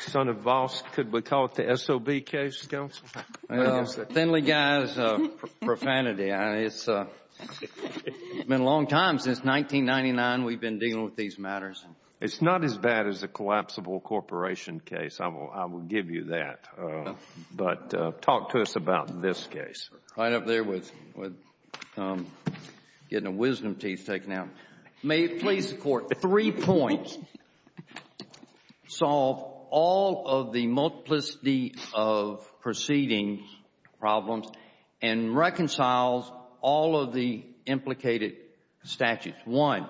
Son of Voss, could we call it the SOB case, Counselor? Thinly-guised profanity. It's been a long time, since 1999 we've been dealing with these matters. It's not as bad as a collapsible corporation case, I will give you that. But talk to us about this case. Right up there with getting wisdom teeth taken out. May it please the Court, three points solve all of the multiplicity of proceedings problems and reconcile all of the implicated statutes. One,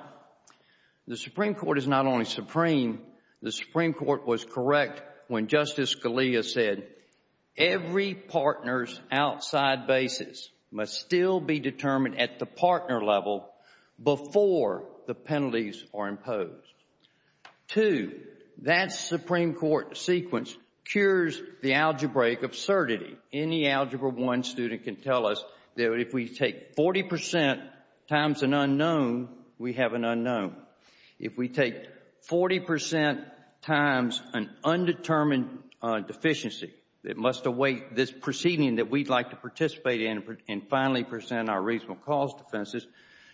the Supreme Court is not only supreme, the Supreme Court was correct when Justice Scalia said every partner's outside basis must still be determined at the partner level before the penalties are imposed. Two, that Supreme Court sequence cures the algebraic absurdity. Any Algebra I student can tell us that if we take 40% times an unknown, we have an unknown. If we take 40% times an undetermined deficiency that must await this proceeding that we'd like to participate in and finally present our reasonable cause defenses,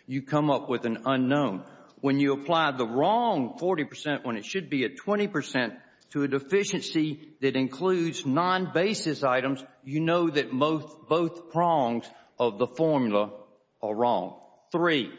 you come up with an unknown. When you apply the wrong 40%, when it should be a 20%, to a deficiency that includes non-basis items, you know that both prongs of the formula are wrong. Three,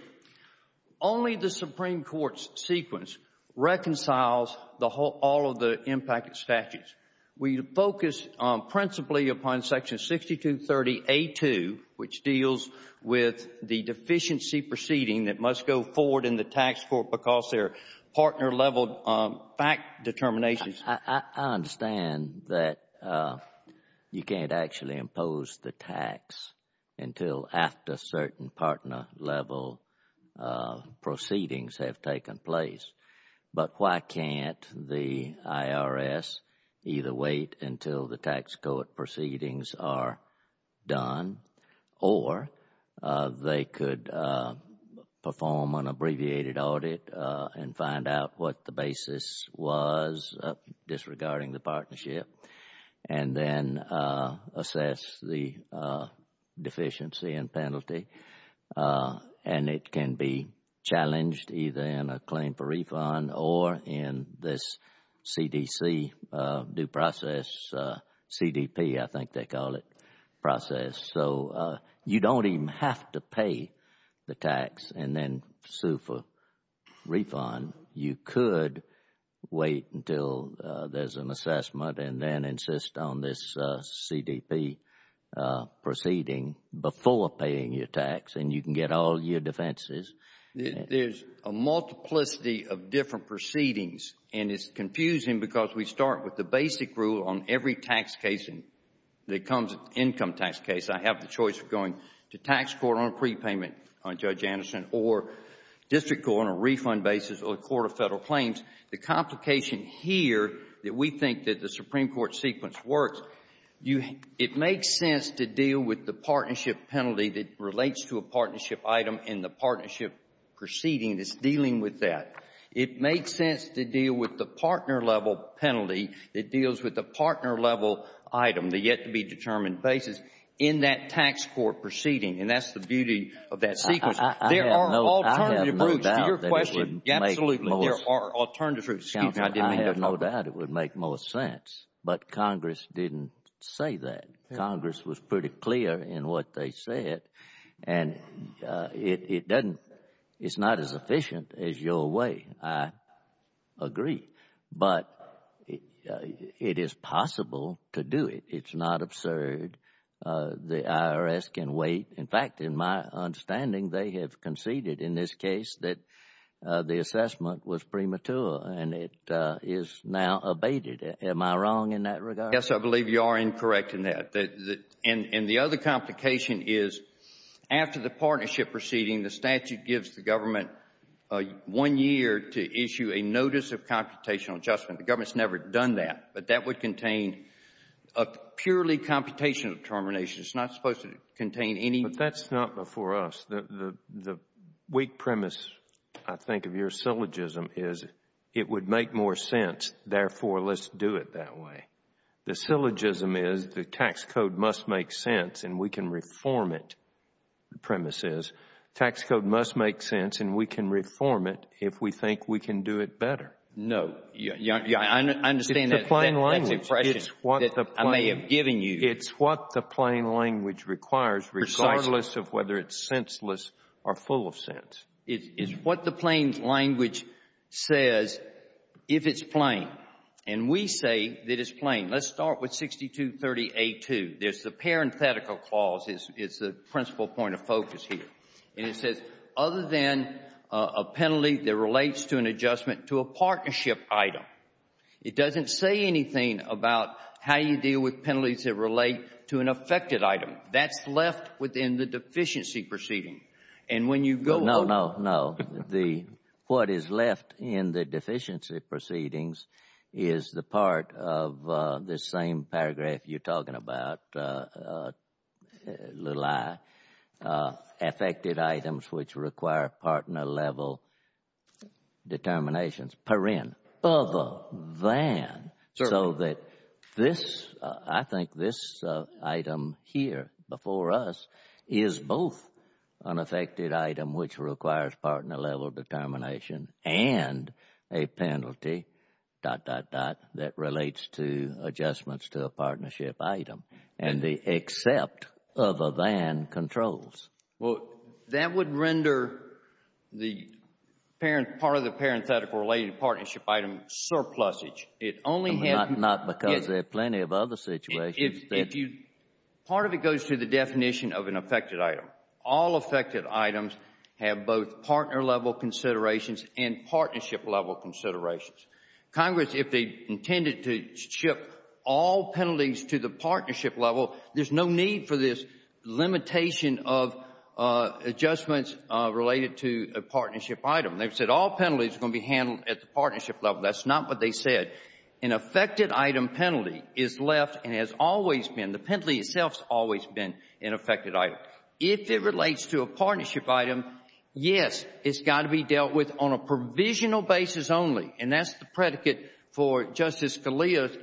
only the Supreme Court's sequence reconciles all of the impacted statutes. We focus principally upon section 6230A2, which deals with the deficiency proceeding that must go forward in the tax court because their partner level fact determinations I understand that you can't actually impose the tax until after certain partner level proceedings have taken place. But why can't the IRS either wait until the tax court proceedings are done or they could perform an abbreviated audit and find out what the basis was disregarding the partnership and then assess the deficiency and penalty. And it can be challenged either in a claim for refund or in this CDC due process, CDP I think they call it, process. So you don't even have to pay the tax and then sue for refund. You could wait until there's an assessment and then insist on this CDP proceeding before paying your tax and you can get all your defenses. There's a multiplicity of different proceedings and it's confusing because we start with the basic rule on every income tax case. I have the choice of going to tax court on a prepayment on Judge Anderson or district court on a refund basis or a court of federal claims. The complication here that we think that the Supreme Court sequence works, it makes sense to deal with the partnership penalty that relates to a partnership item and the partnership proceeding that's dealing with that. It makes sense to deal with the partner-level penalty that deals with the partner-level item, the yet-to-be-determined basis in that tax court proceeding. And that's the beauty of that sequence. There are alternative routes to your question. Absolutely, there are alternative routes. I have no doubt it would make more sense, but Congress didn't say that. Congress was pretty clear in what they said and it's not as efficient as your way. I agree, but it is possible to do it. It's not absurd. The IRS can wait. In fact, in my understanding, they have conceded in this case that the assessment was premature and it is now abated. Am I wrong in that regard? I guess I believe you are incorrect in that. And the other complication is after the partnership proceeding, the statute gives the government one year to issue a notice of computational adjustment. The government has never done that, but that would contain a purely computational determination. It's not supposed to contain any – But that's not before us. The weak premise, I think, of your syllogism is it would make more sense, therefore let's do it that way. The syllogism is the tax code must make sense and we can reform it, the premise is. Tax code must make sense and we can reform it if we think we can do it better. No, I understand that. It's the plain language. That's the impression that I may have given you. It's what the plain language requires regardless of whether it's senseless or full of sense. It's what the plain language says if it's plain. And we say that it's plain. Let's start with 6230A2. There's the parenthetical clause. It's the principal point of focus here. And it says other than a penalty that relates to an adjustment to a partnership item. It doesn't say anything about how you deal with penalties that relate to an affected item. That's left within the deficiency proceeding. And when you go on. No, no, no. What is left in the deficiency proceedings is the part of this same paragraph you're talking about, little i, affected items which require partner level determinations. Other than. So that this, I think this item here before us is both an affected item which requires partner level determination and a penalty dot, dot, dot that relates to adjustments to a partnership item. And the except other than controls. Well, that would render the parent, part of the parenthetical related partnership item surplusage. It only has. Not because there are plenty of other situations. If you, part of it goes to the definition of an affected item. All affected items have both partner level considerations and partnership level considerations. Congress, if they intended to ship all penalties to the partnership level, there's no need for this limitation of adjustments related to a partnership item. They've said all penalties are going to be handled at the partnership level. That's not what they said. An affected item penalty is left and has always been, the penalty itself has always been an affected item. If it relates to a partnership item, yes, it's got to be dealt with on a provisional basis only. And that's the predicate for Justice Scalia's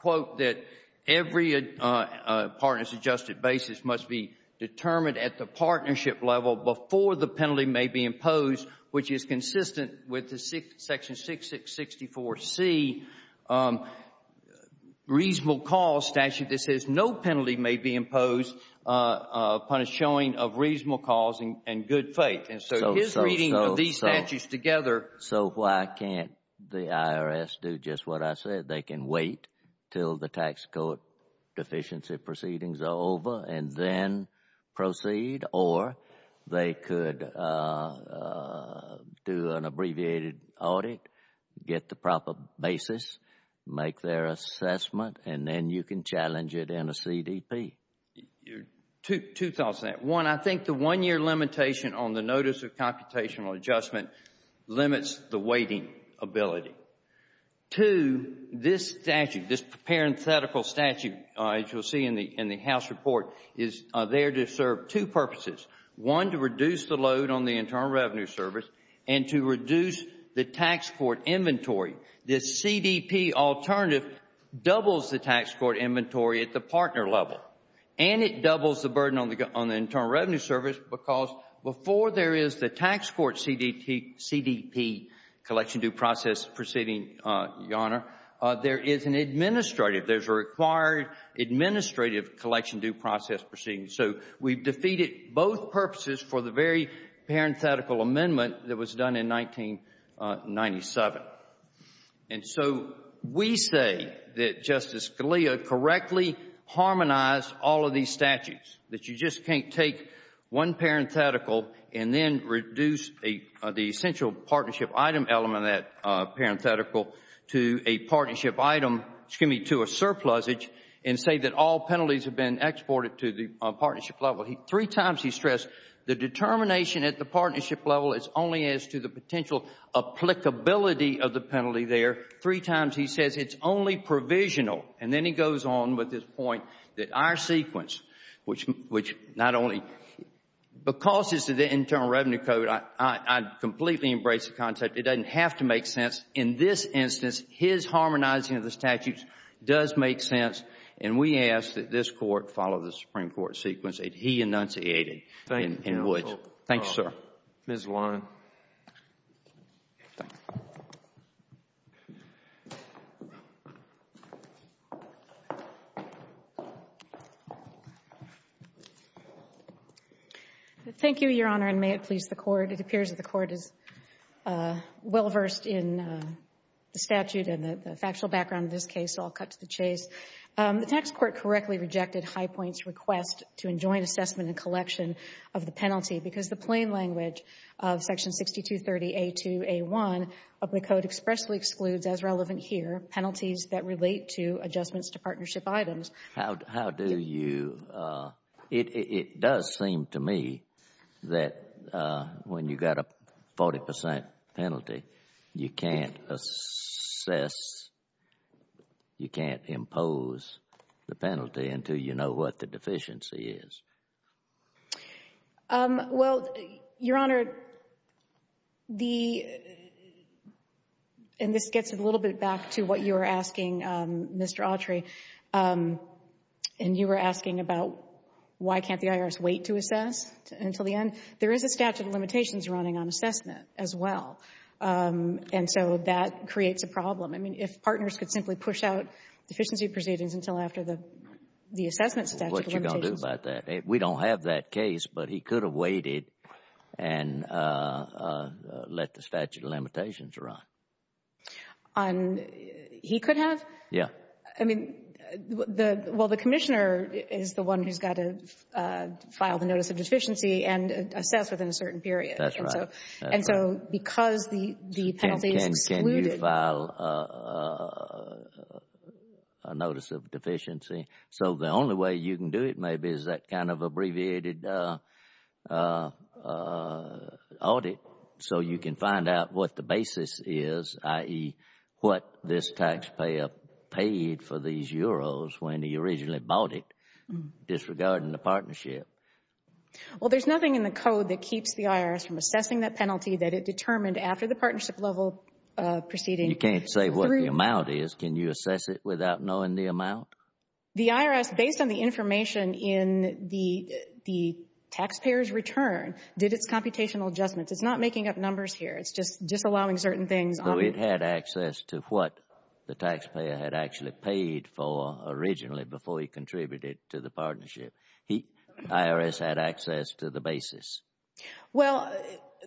quote that every partner's adjusted basis must be determined at the partnership level before the penalty may be imposed, which is consistent with the section 6664C reasonable cause statute that says no penalty may be imposed upon a showing of reasonable cause and good faith. And so his reading of these statutes together. So why can't the IRS do just what I said? They can wait until the tax code deficiency proceedings are over and then proceed, or they could do an abbreviated audit, get the proper basis, make their assessment, and then you can challenge it in a CDP. Two thoughts on that. One, I think the one-year limitation on the notice of computational adjustment limits the waiting ability. Two, this statute, this parenthetical statute, as you'll see in the House report, is there to serve two purposes. One, to reduce the load on the Internal Revenue Service and to reduce the tax court inventory. This CDP alternative doubles the tax court inventory at the partner level, and it doubles the burden on the Internal Revenue Service because before there is the tax court CDP collection due process proceeding, Your Honor, there is an administrative, there's a required administrative collection due process proceeding. So we've defeated both purposes for the very parenthetical amendment that was done in 1997. And so we say that Justice Scalia correctly harmonized all of these statutes, that you just can't take one parenthetical and then reduce the essential partnership item element of that parenthetical to a partnership item, excuse me, to a surplusage and say that all penalties have been exported to the partnership level. Three times he stressed the determination at the partnership level as only as to the potential applicability of the penalty there. Three times he says it's only provisional. And then he goes on with his point that our sequence, which not only, because it's the Internal Revenue Code, I completely embrace the concept. It doesn't have to make sense. In this instance, his harmonizing of the statutes does make sense, and we ask that this Court follow the Supreme Court sequence that he enunciated in Woods. Thank you, Your Honor. Thank you, sir. Ms. Warren. Thank you, Your Honor, and may it please the Court. It appears that the Court is well versed in the statute and the factual background of this case, so I'll cut to the chase. The tax court correctly rejected Highpoint's request to enjoin assessment and collection of the penalty because the plain language of Section 6230A2A1 of the Code expressly excludes, as relevant here, penalties that relate to adjustments to partnership items. How do you – it does seem to me that when you've got a 40 percent penalty, you can't assess, you can't impose the penalty until you know what the deficiency is. Well, Your Honor, the – and this gets a little bit back to what you were asking, Mr. Autry, and you were asking about why can't the IRS wait to assess until the end? There is a statute of limitations running on assessment as well. And so that creates a problem. I mean, if partners could simply push out deficiency proceedings until after the assessment statute of limitations. What are you going to do about that? We don't have that case, but he could have waited and let the statute of limitations run. He could have? Yeah. I mean, the – well, the Commissioner is the one who's got to file the notice of deficiency and assess within a certain period. That's right. And so because the penalty is excluded – Can you file a notice of deficiency? So the only way you can do it maybe is that kind of abbreviated audit so you can find out what the basis is, i.e., what this taxpayer paid for these euros when he originally bought it, disregarding the partnership. Well, there's nothing in the code that keeps the IRS from assessing that penalty that it determined after the partnership level proceeding. You can't say what the amount is. Can you assess it without knowing the amount? The IRS, based on the information in the taxpayer's return, did its computational adjustments. It's not making up numbers here. It's just disallowing certain things. So it had access to what the taxpayer had actually paid for originally before he contributed to the partnership. The IRS had access to the basis. Well,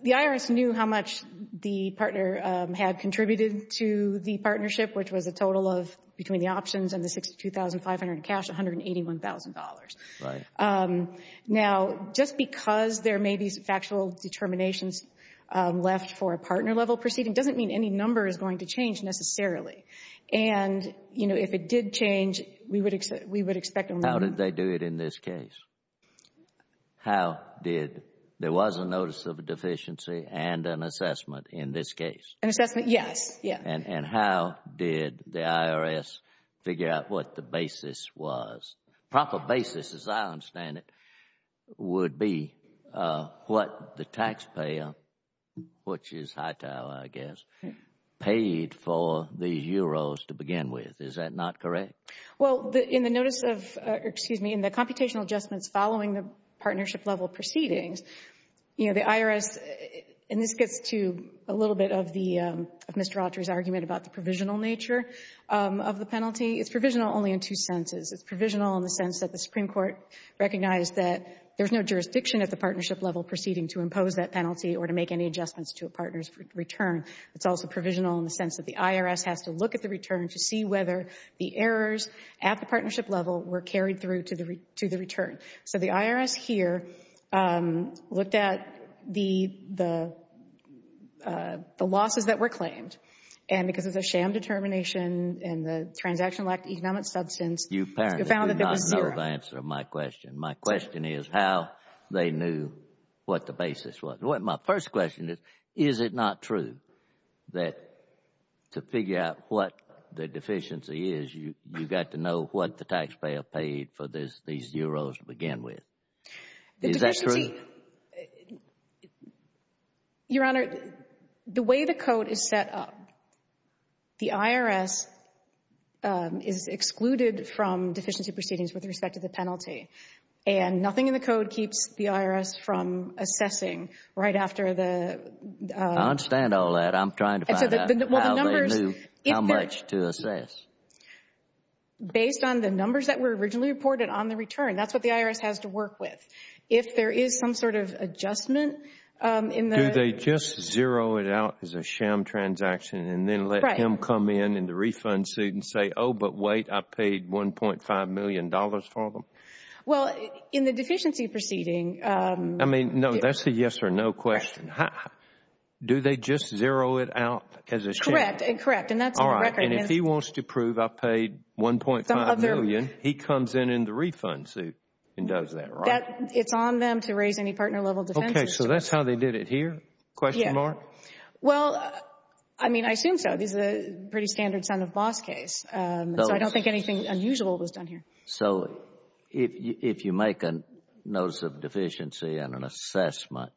the IRS knew how much the partner had contributed to the partnership, which was a total of, between the options and the $62,500 cash, $181,000. Right. Now, just because there may be factual determinations left for a partner level proceeding doesn't mean any number is going to change necessarily. And, you know, if it did change, we would expect – How did they do it in this case? How did – there was a notice of a deficiency and an assessment in this case? An assessment, yes. And how did the IRS figure out what the basis was? Proper basis, as I understand it, would be what the taxpayer, which is Hightower, I guess, paid for the euros to begin with. Is that not correct? Well, in the notice of – excuse me. In the computational adjustments following the partnership level proceedings, you know, the IRS – and this gets to a little bit of the – of Mr. Autry's argument about the provisional nature of the penalty. It's provisional only in two senses. It's provisional in the sense that the Supreme Court recognized that there's no jurisdiction at the partnership level proceeding to impose that penalty or to make any adjustments to a partner's return. It's also provisional in the sense that the IRS has to look at the return to see whether the errors at the partnership level were carried through to the return. So the IRS here looked at the losses that were claimed. And because of the sham determination and the transactional economic substance, you found that there was zero. You apparently do not know the answer to my question. My question is how they knew what the basis was. My first question is, is it not true that to figure out what the deficiency is, you've got to know what the taxpayer paid for these zeros to begin with? Is that true? The deficiency – Your Honor, the way the code is set up, the IRS is excluded from deficiency proceedings with respect to the penalty. And nothing in the code keeps the IRS from assessing right after the – I understand all that. I'm trying to find out how they knew how much to assess. Based on the numbers that were originally reported on the return, that's what the IRS has to work with. If there is some sort of adjustment in the – Do they just zero it out as a sham transaction and then let him come in in the refund suit and say, oh, but wait, I paid $1.5 million for them? Well, in the deficiency proceeding – I mean, no, that's a yes or no question. Do they just zero it out as a sham? Correct, and that's on the record. All right, and if he wants to prove I paid $1.5 million, he comes in in the refund suit and does that, right? It's on them to raise any partner-level defenses. Okay, so that's how they did it here, question mark? Well, I mean, I assume so. This is a pretty standard son-of-a-boss case, so I don't think anything unusual was done here. So if you make a notice of deficiency and an assessment,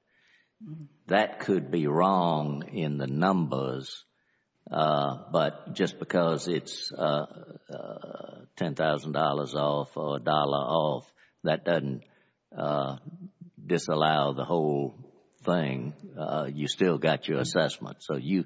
that could be wrong in the numbers, but just because it's $10,000 off or $1 off, that doesn't disallow the whole thing. You still got your assessment. So you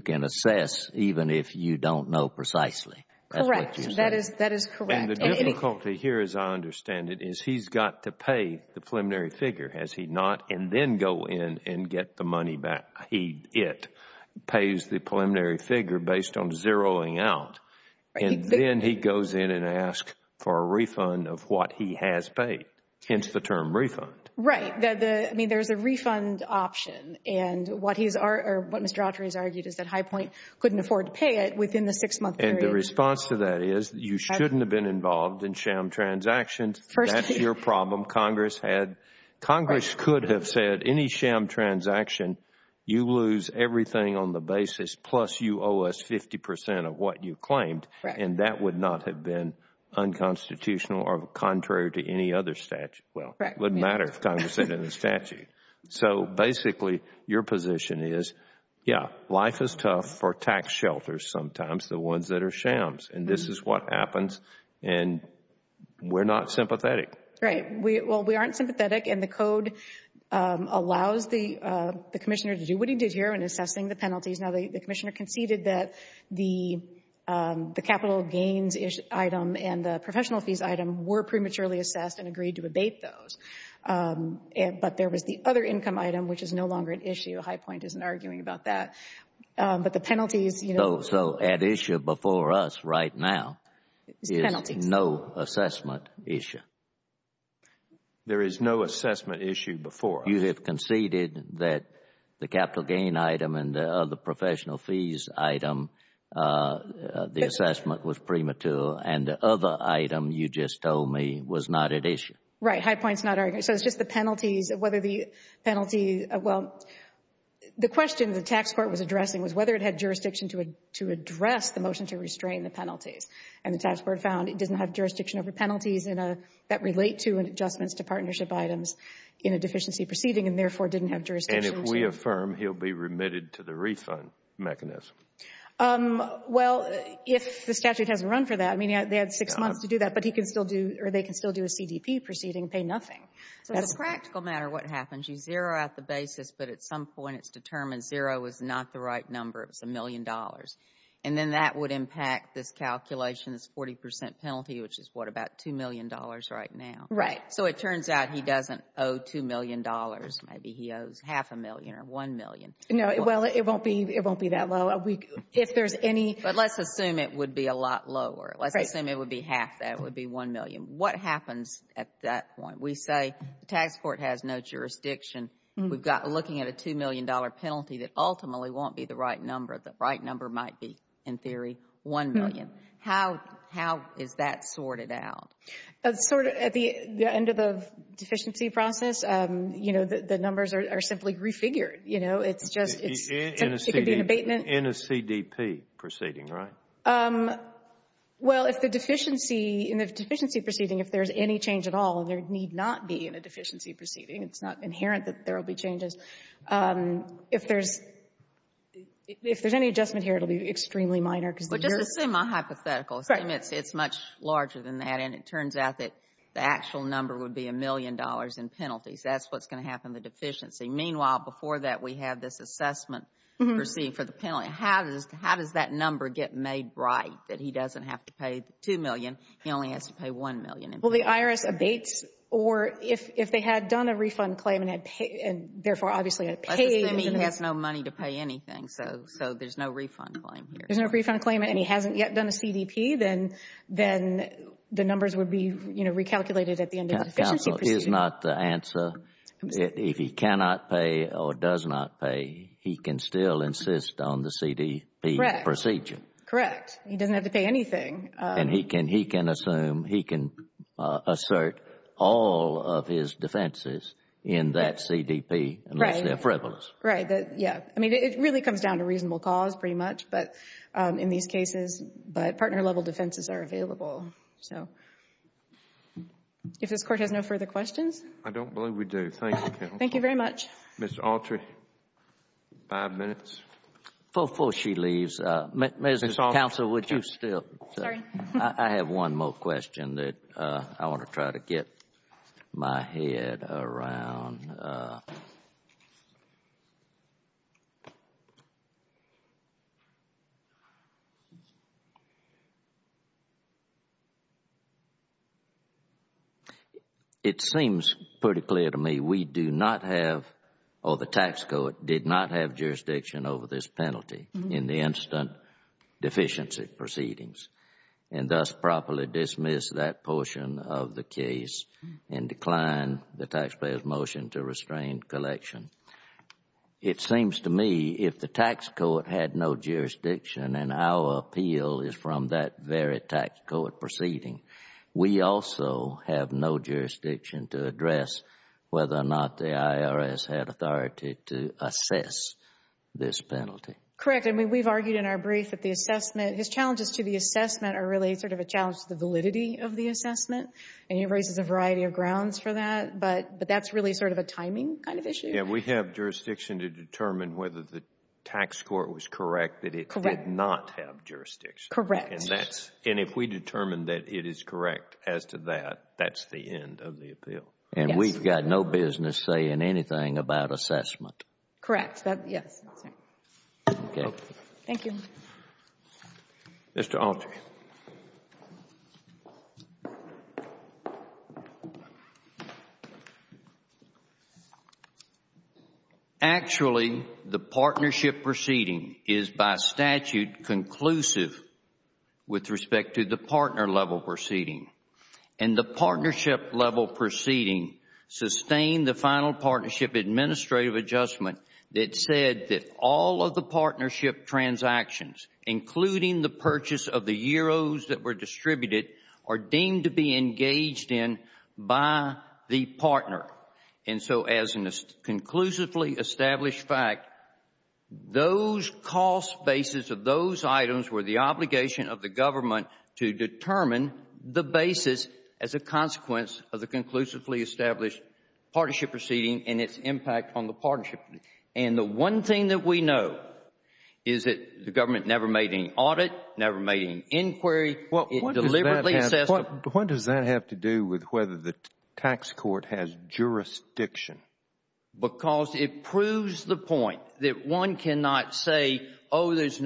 can assess even if you don't know precisely. Correct. That is correct. And the difficulty here, as I understand it, is he's got to pay the preliminary figure, has he not, and then go in and get the money back. It pays the preliminary figure based on zeroing out, and then he goes in and asks for a refund of what he has paid, hence the term refund. Right. I mean, there's a refund option, and what Mr. Autry has argued is that High Point couldn't afford to pay it within the six-month period. And the response to that is you shouldn't have been involved in sham transactions. That's your problem. Congress could have said any sham transaction, you lose everything on the basis, plus you owe us 50% of what you claimed, and that would not have been unconstitutional or contrary to any other statute. Well, it wouldn't matter if Congress said it in the statute. So basically, your position is, yeah, life is tough for tax shelters sometimes, the ones that are shams, and this is what happens, and we're not sympathetic. Right. Well, we aren't sympathetic, and the Code allows the Commissioner to do what he did here in assessing the penalties. Now, the Commissioner conceded that the capital gains item and the professional fees item were prematurely assessed and agreed to abate those. But there was the other income item, which is no longer an issue. High Point isn't arguing about that. But the penalties, you know. So at issue before us right now is no assessment issue. There is no assessment issue before us. You have conceded that the capital gain item and the other professional fees item, the assessment was premature, and the other item you just told me was not at issue. Right. High Point is not arguing. So it's just the penalties, whether the penalty, well, the question the tax court was addressing was whether it had jurisdiction to address the motion to restrain the penalties. And the tax court found it doesn't have jurisdiction over penalties that relate to adjustments to partnership items in a deficiency proceeding and therefore didn't have jurisdiction to. Can we affirm he'll be remitted to the refund mechanism? Well, if the statute has a run for that. I mean, they had six months to do that, but he can still do, or they can still do a CDP proceeding and pay nothing. So as a practical matter, what happens, you zero out the basis, but at some point it's determined zero is not the right number. It's a million dollars. And then that would impact this calculation, this 40% penalty, which is what, about $2 million right now. Right. So it turns out he doesn't owe $2 million. Maybe he owes half a million or one million. No, well, it won't be that low. If there's any — But let's assume it would be a lot lower. Right. Let's assume it would be half that. It would be one million. What happens at that point? We say the tax court has no jurisdiction. We've got looking at a $2 million penalty that ultimately won't be the right number. The right number might be, in theory, one million. How is that sorted out? Sort of at the end of the deficiency process, you know, the numbers are simply refigured. You know, it's just — In a CDP. It could be an abatement. In a CDP proceeding, right? Well, if the deficiency — in the deficiency proceeding, if there's any change at all, and there need not be in a deficiency proceeding, it's not inherent that there will be changes. If there's — if there's any adjustment here, it will be extremely minor because the year — Well, just assume a hypothetical. Right. If there's abatements, it's much larger than that, and it turns out that the actual number would be a million dollars in penalties. That's what's going to happen in the deficiency. Meanwhile, before that, we have this assessment proceeding for the penalty. How does that number get made right, that he doesn't have to pay the $2 million, he only has to pay $1 million in penalties? Well, the IRS abates, or if they had done a refund claim and had paid — and therefore, obviously, had paid — Well, it's just that he has no money to pay anything, so there's no refund claim here. If there's no refund claim and he hasn't yet done a CDP, then the numbers would be, you know, recalculated at the end of the deficiency proceeding. Counsel, is not the answer. If he cannot pay or does not pay, he can still insist on the CDP procedure. Correct. Correct. He doesn't have to pay anything. And he can assume, he can assert all of his defenses in that CDP unless they're frivolous. Right. Yeah. I mean, it really comes down to reasonable cause, pretty much, but in these cases — but partner-level defenses are available, so. If this Court has no further questions? I don't believe we do. Thank you, counsel. Thank you very much. Mr. Alter, five minutes. Before she leaves, Mr. Counsel, would you still — Sorry. I have one more question that I want to try to get my head around. It seems pretty clear to me we do not have, or the tax code did not have, jurisdiction over this penalty in the instant deficiency proceedings, and thus properly dismiss that portion of the case and decline the taxpayer's motion to restrain collection. It seems to me if the tax code had no jurisdiction and our appeal is from that very tax code proceeding, we also have no jurisdiction to address whether or not the IRS had authority to assess this penalty. Correct. I mean, we've argued in our brief that the assessment — his challenges to the assessment are really sort of a challenge to the validity of the assessment, and he raises a variety of grounds for that, but that's really sort of a timing kind of issue. Yeah. We have jurisdiction to determine whether the tax court was correct that it did not have jurisdiction. Correct. And if we determine that it is correct as to that, that's the end of the appeal. Yes. So you've got no business saying anything about assessment? Correct. Yes. Okay. Thank you. Mr. Autry. Actually, the partnership proceeding is by statute conclusive with respect to the partner-level proceeding. And the partnership-level proceeding sustained the final partnership administrative adjustment that said that all of the partnership transactions, including the purchase of the euros that were distributed, are deemed to be engaged in by the partner. And so as a conclusively established fact, those cost bases of those items were the obligation of the government to determine the basis as a consequence of the conclusively established partnership proceeding and its impact on the partnership. And the one thing that we know is that the government never made any audit, never made any inquiry. It deliberately assessed them. What does that have to do with whether the tax court has jurisdiction? Because it proves the point that one cannot say, oh, it's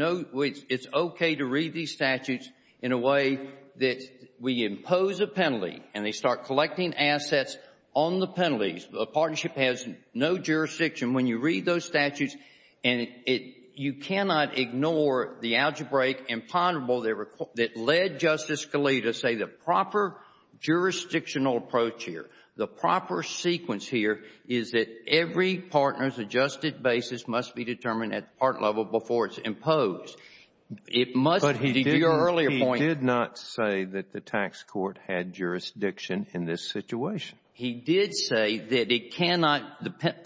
okay to read these statutes in a way that we impose a penalty and they start collecting assets on the penalties. A partnership has no jurisdiction. When you read those statutes, you cannot ignore the algebraic imponderable that led Justice is that every partner's adjusted basis must be determined at the partner level before it's imposed. It must be your earlier point. But he did not say that the tax court had jurisdiction in this situation. He did say that it cannot,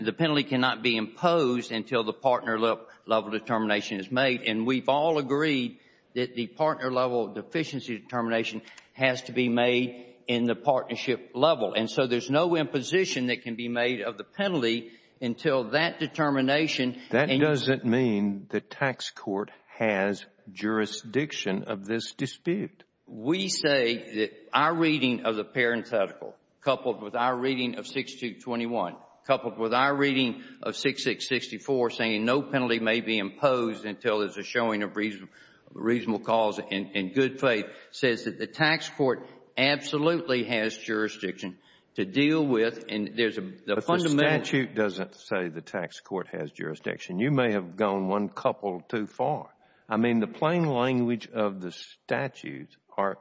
the penalty cannot be imposed until the partner-level determination is made. And we've all agreed that the partner-level deficiency determination has to be made in the partnership level. And so there's no imposition that can be made of the penalty until that determination. That doesn't mean the tax court has jurisdiction of this dispute. We say that our reading of the parenthetical, coupled with our reading of 6221, coupled with our reading of 6664, saying no penalty may be imposed until there's a showing of reasonable cause and good faith, says that the tax court absolutely has jurisdiction to deal with and there's a fundamental But the statute doesn't say the tax court has jurisdiction. You may have gone one couple too far. I mean, the plain language of the statutes are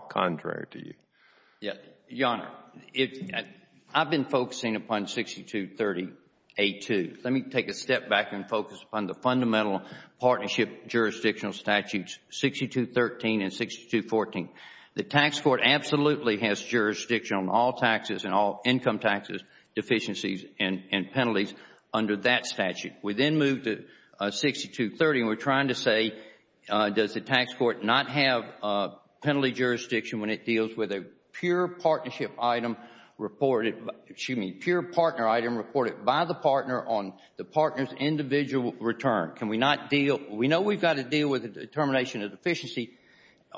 contrary to you. Your Honor, I've been focusing upon 6230A2. Let me take a step back and focus upon the fundamental partnership jurisdictional statutes 6213 and 6214. The tax court absolutely has jurisdiction on all taxes and all income taxes, deficiencies and penalties under that statute. We then move to 6230 and we're trying to say does the tax court not have penalty jurisdiction when it deals with a pure partnership item reported, excuse me, pure partner item reported by the partner on the partner's individual return? Can we not deal, we know we've got to deal with a determination of deficiency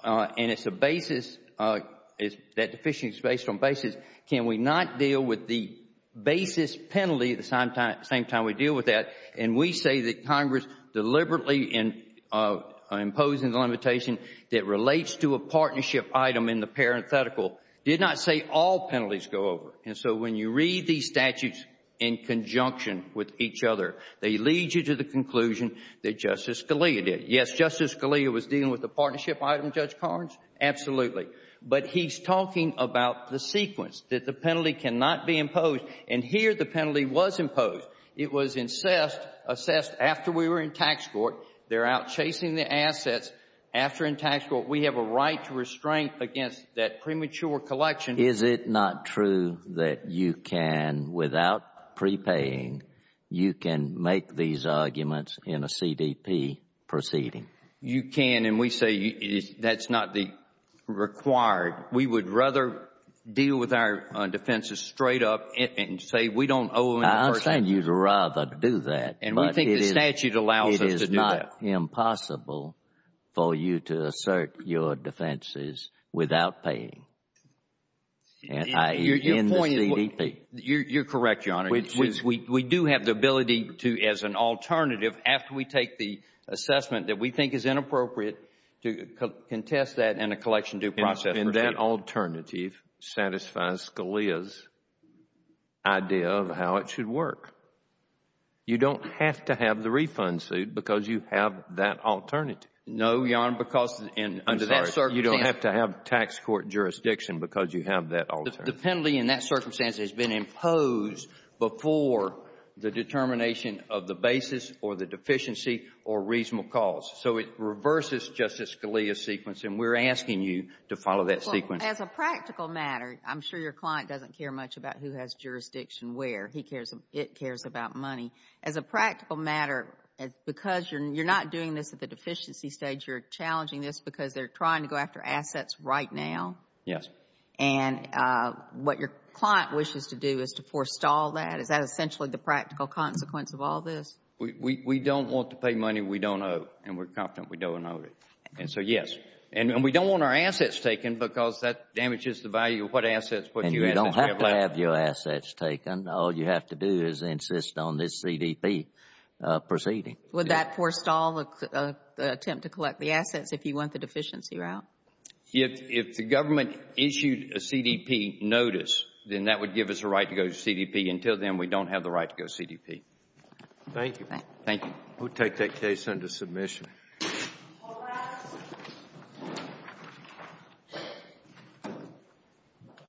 and it's a basis, that deficiency is based on basis. Can we not deal with the basis penalty at the same time we deal with that? And we say that Congress deliberately imposing the limitation that relates to a partnership item in the parenthetical did not say all penalties go over. And so when you read these statutes in conjunction with each other, they lead you to the conclusion that Justice Scalia did. Yes, Justice Scalia was dealing with the partnership item, Judge Carnes, absolutely. But he's talking about the sequence, that the penalty cannot be imposed. And here the penalty was imposed. It was assessed after we were in tax court. They're out chasing the assets. After in tax court, we have a right to restrain against that premature collection. Is it not true that you can, without prepaying, you can make these arguments in a CDP proceeding? You can and we say that's not required. We would rather deal with our defenses straight up and say we don't owe a person. I understand you'd rather do that. And we think the statute allows us to do that. It's not impossible for you to assert your defenses without paying, i.e., in the CDP. You're correct, Your Honor. We do have the ability to, as an alternative, after we take the assessment that we think is inappropriate, to contest that in a collection due process. And that alternative satisfies Scalia's idea of how it should work. You don't have to have the refund suit because you have that alternative. No, Your Honor, because under that circumstance. I'm sorry. You don't have to have tax court jurisdiction because you have that alternative. The penalty in that circumstance has been imposed before the determination of the basis or the deficiency or reasonable cause. So it reverses Justice Scalia's sequence, and we're asking you to follow that sequence. As a practical matter, I'm sure your client doesn't care much about who has jurisdiction where. He cares. It cares about money. As a practical matter, because you're not doing this at the deficiency stage, you're challenging this because they're trying to go after assets right now. Yes. And what your client wishes to do is to forestall that. Is that essentially the practical consequence of all this? We don't want to pay money we don't owe, and we're confident we don't owe it. And so, yes. And we don't want our assets taken because that damages the value of what assets we have left. All you have to do is insist on this CDP proceeding. Would that forestall the attempt to collect the assets if you want the deficiency route? If the government issued a CDP notice, then that would give us a right to go to CDP. Until then, we don't have the right to go to CDP. Thank you. Thank you. We'll take that case under submission.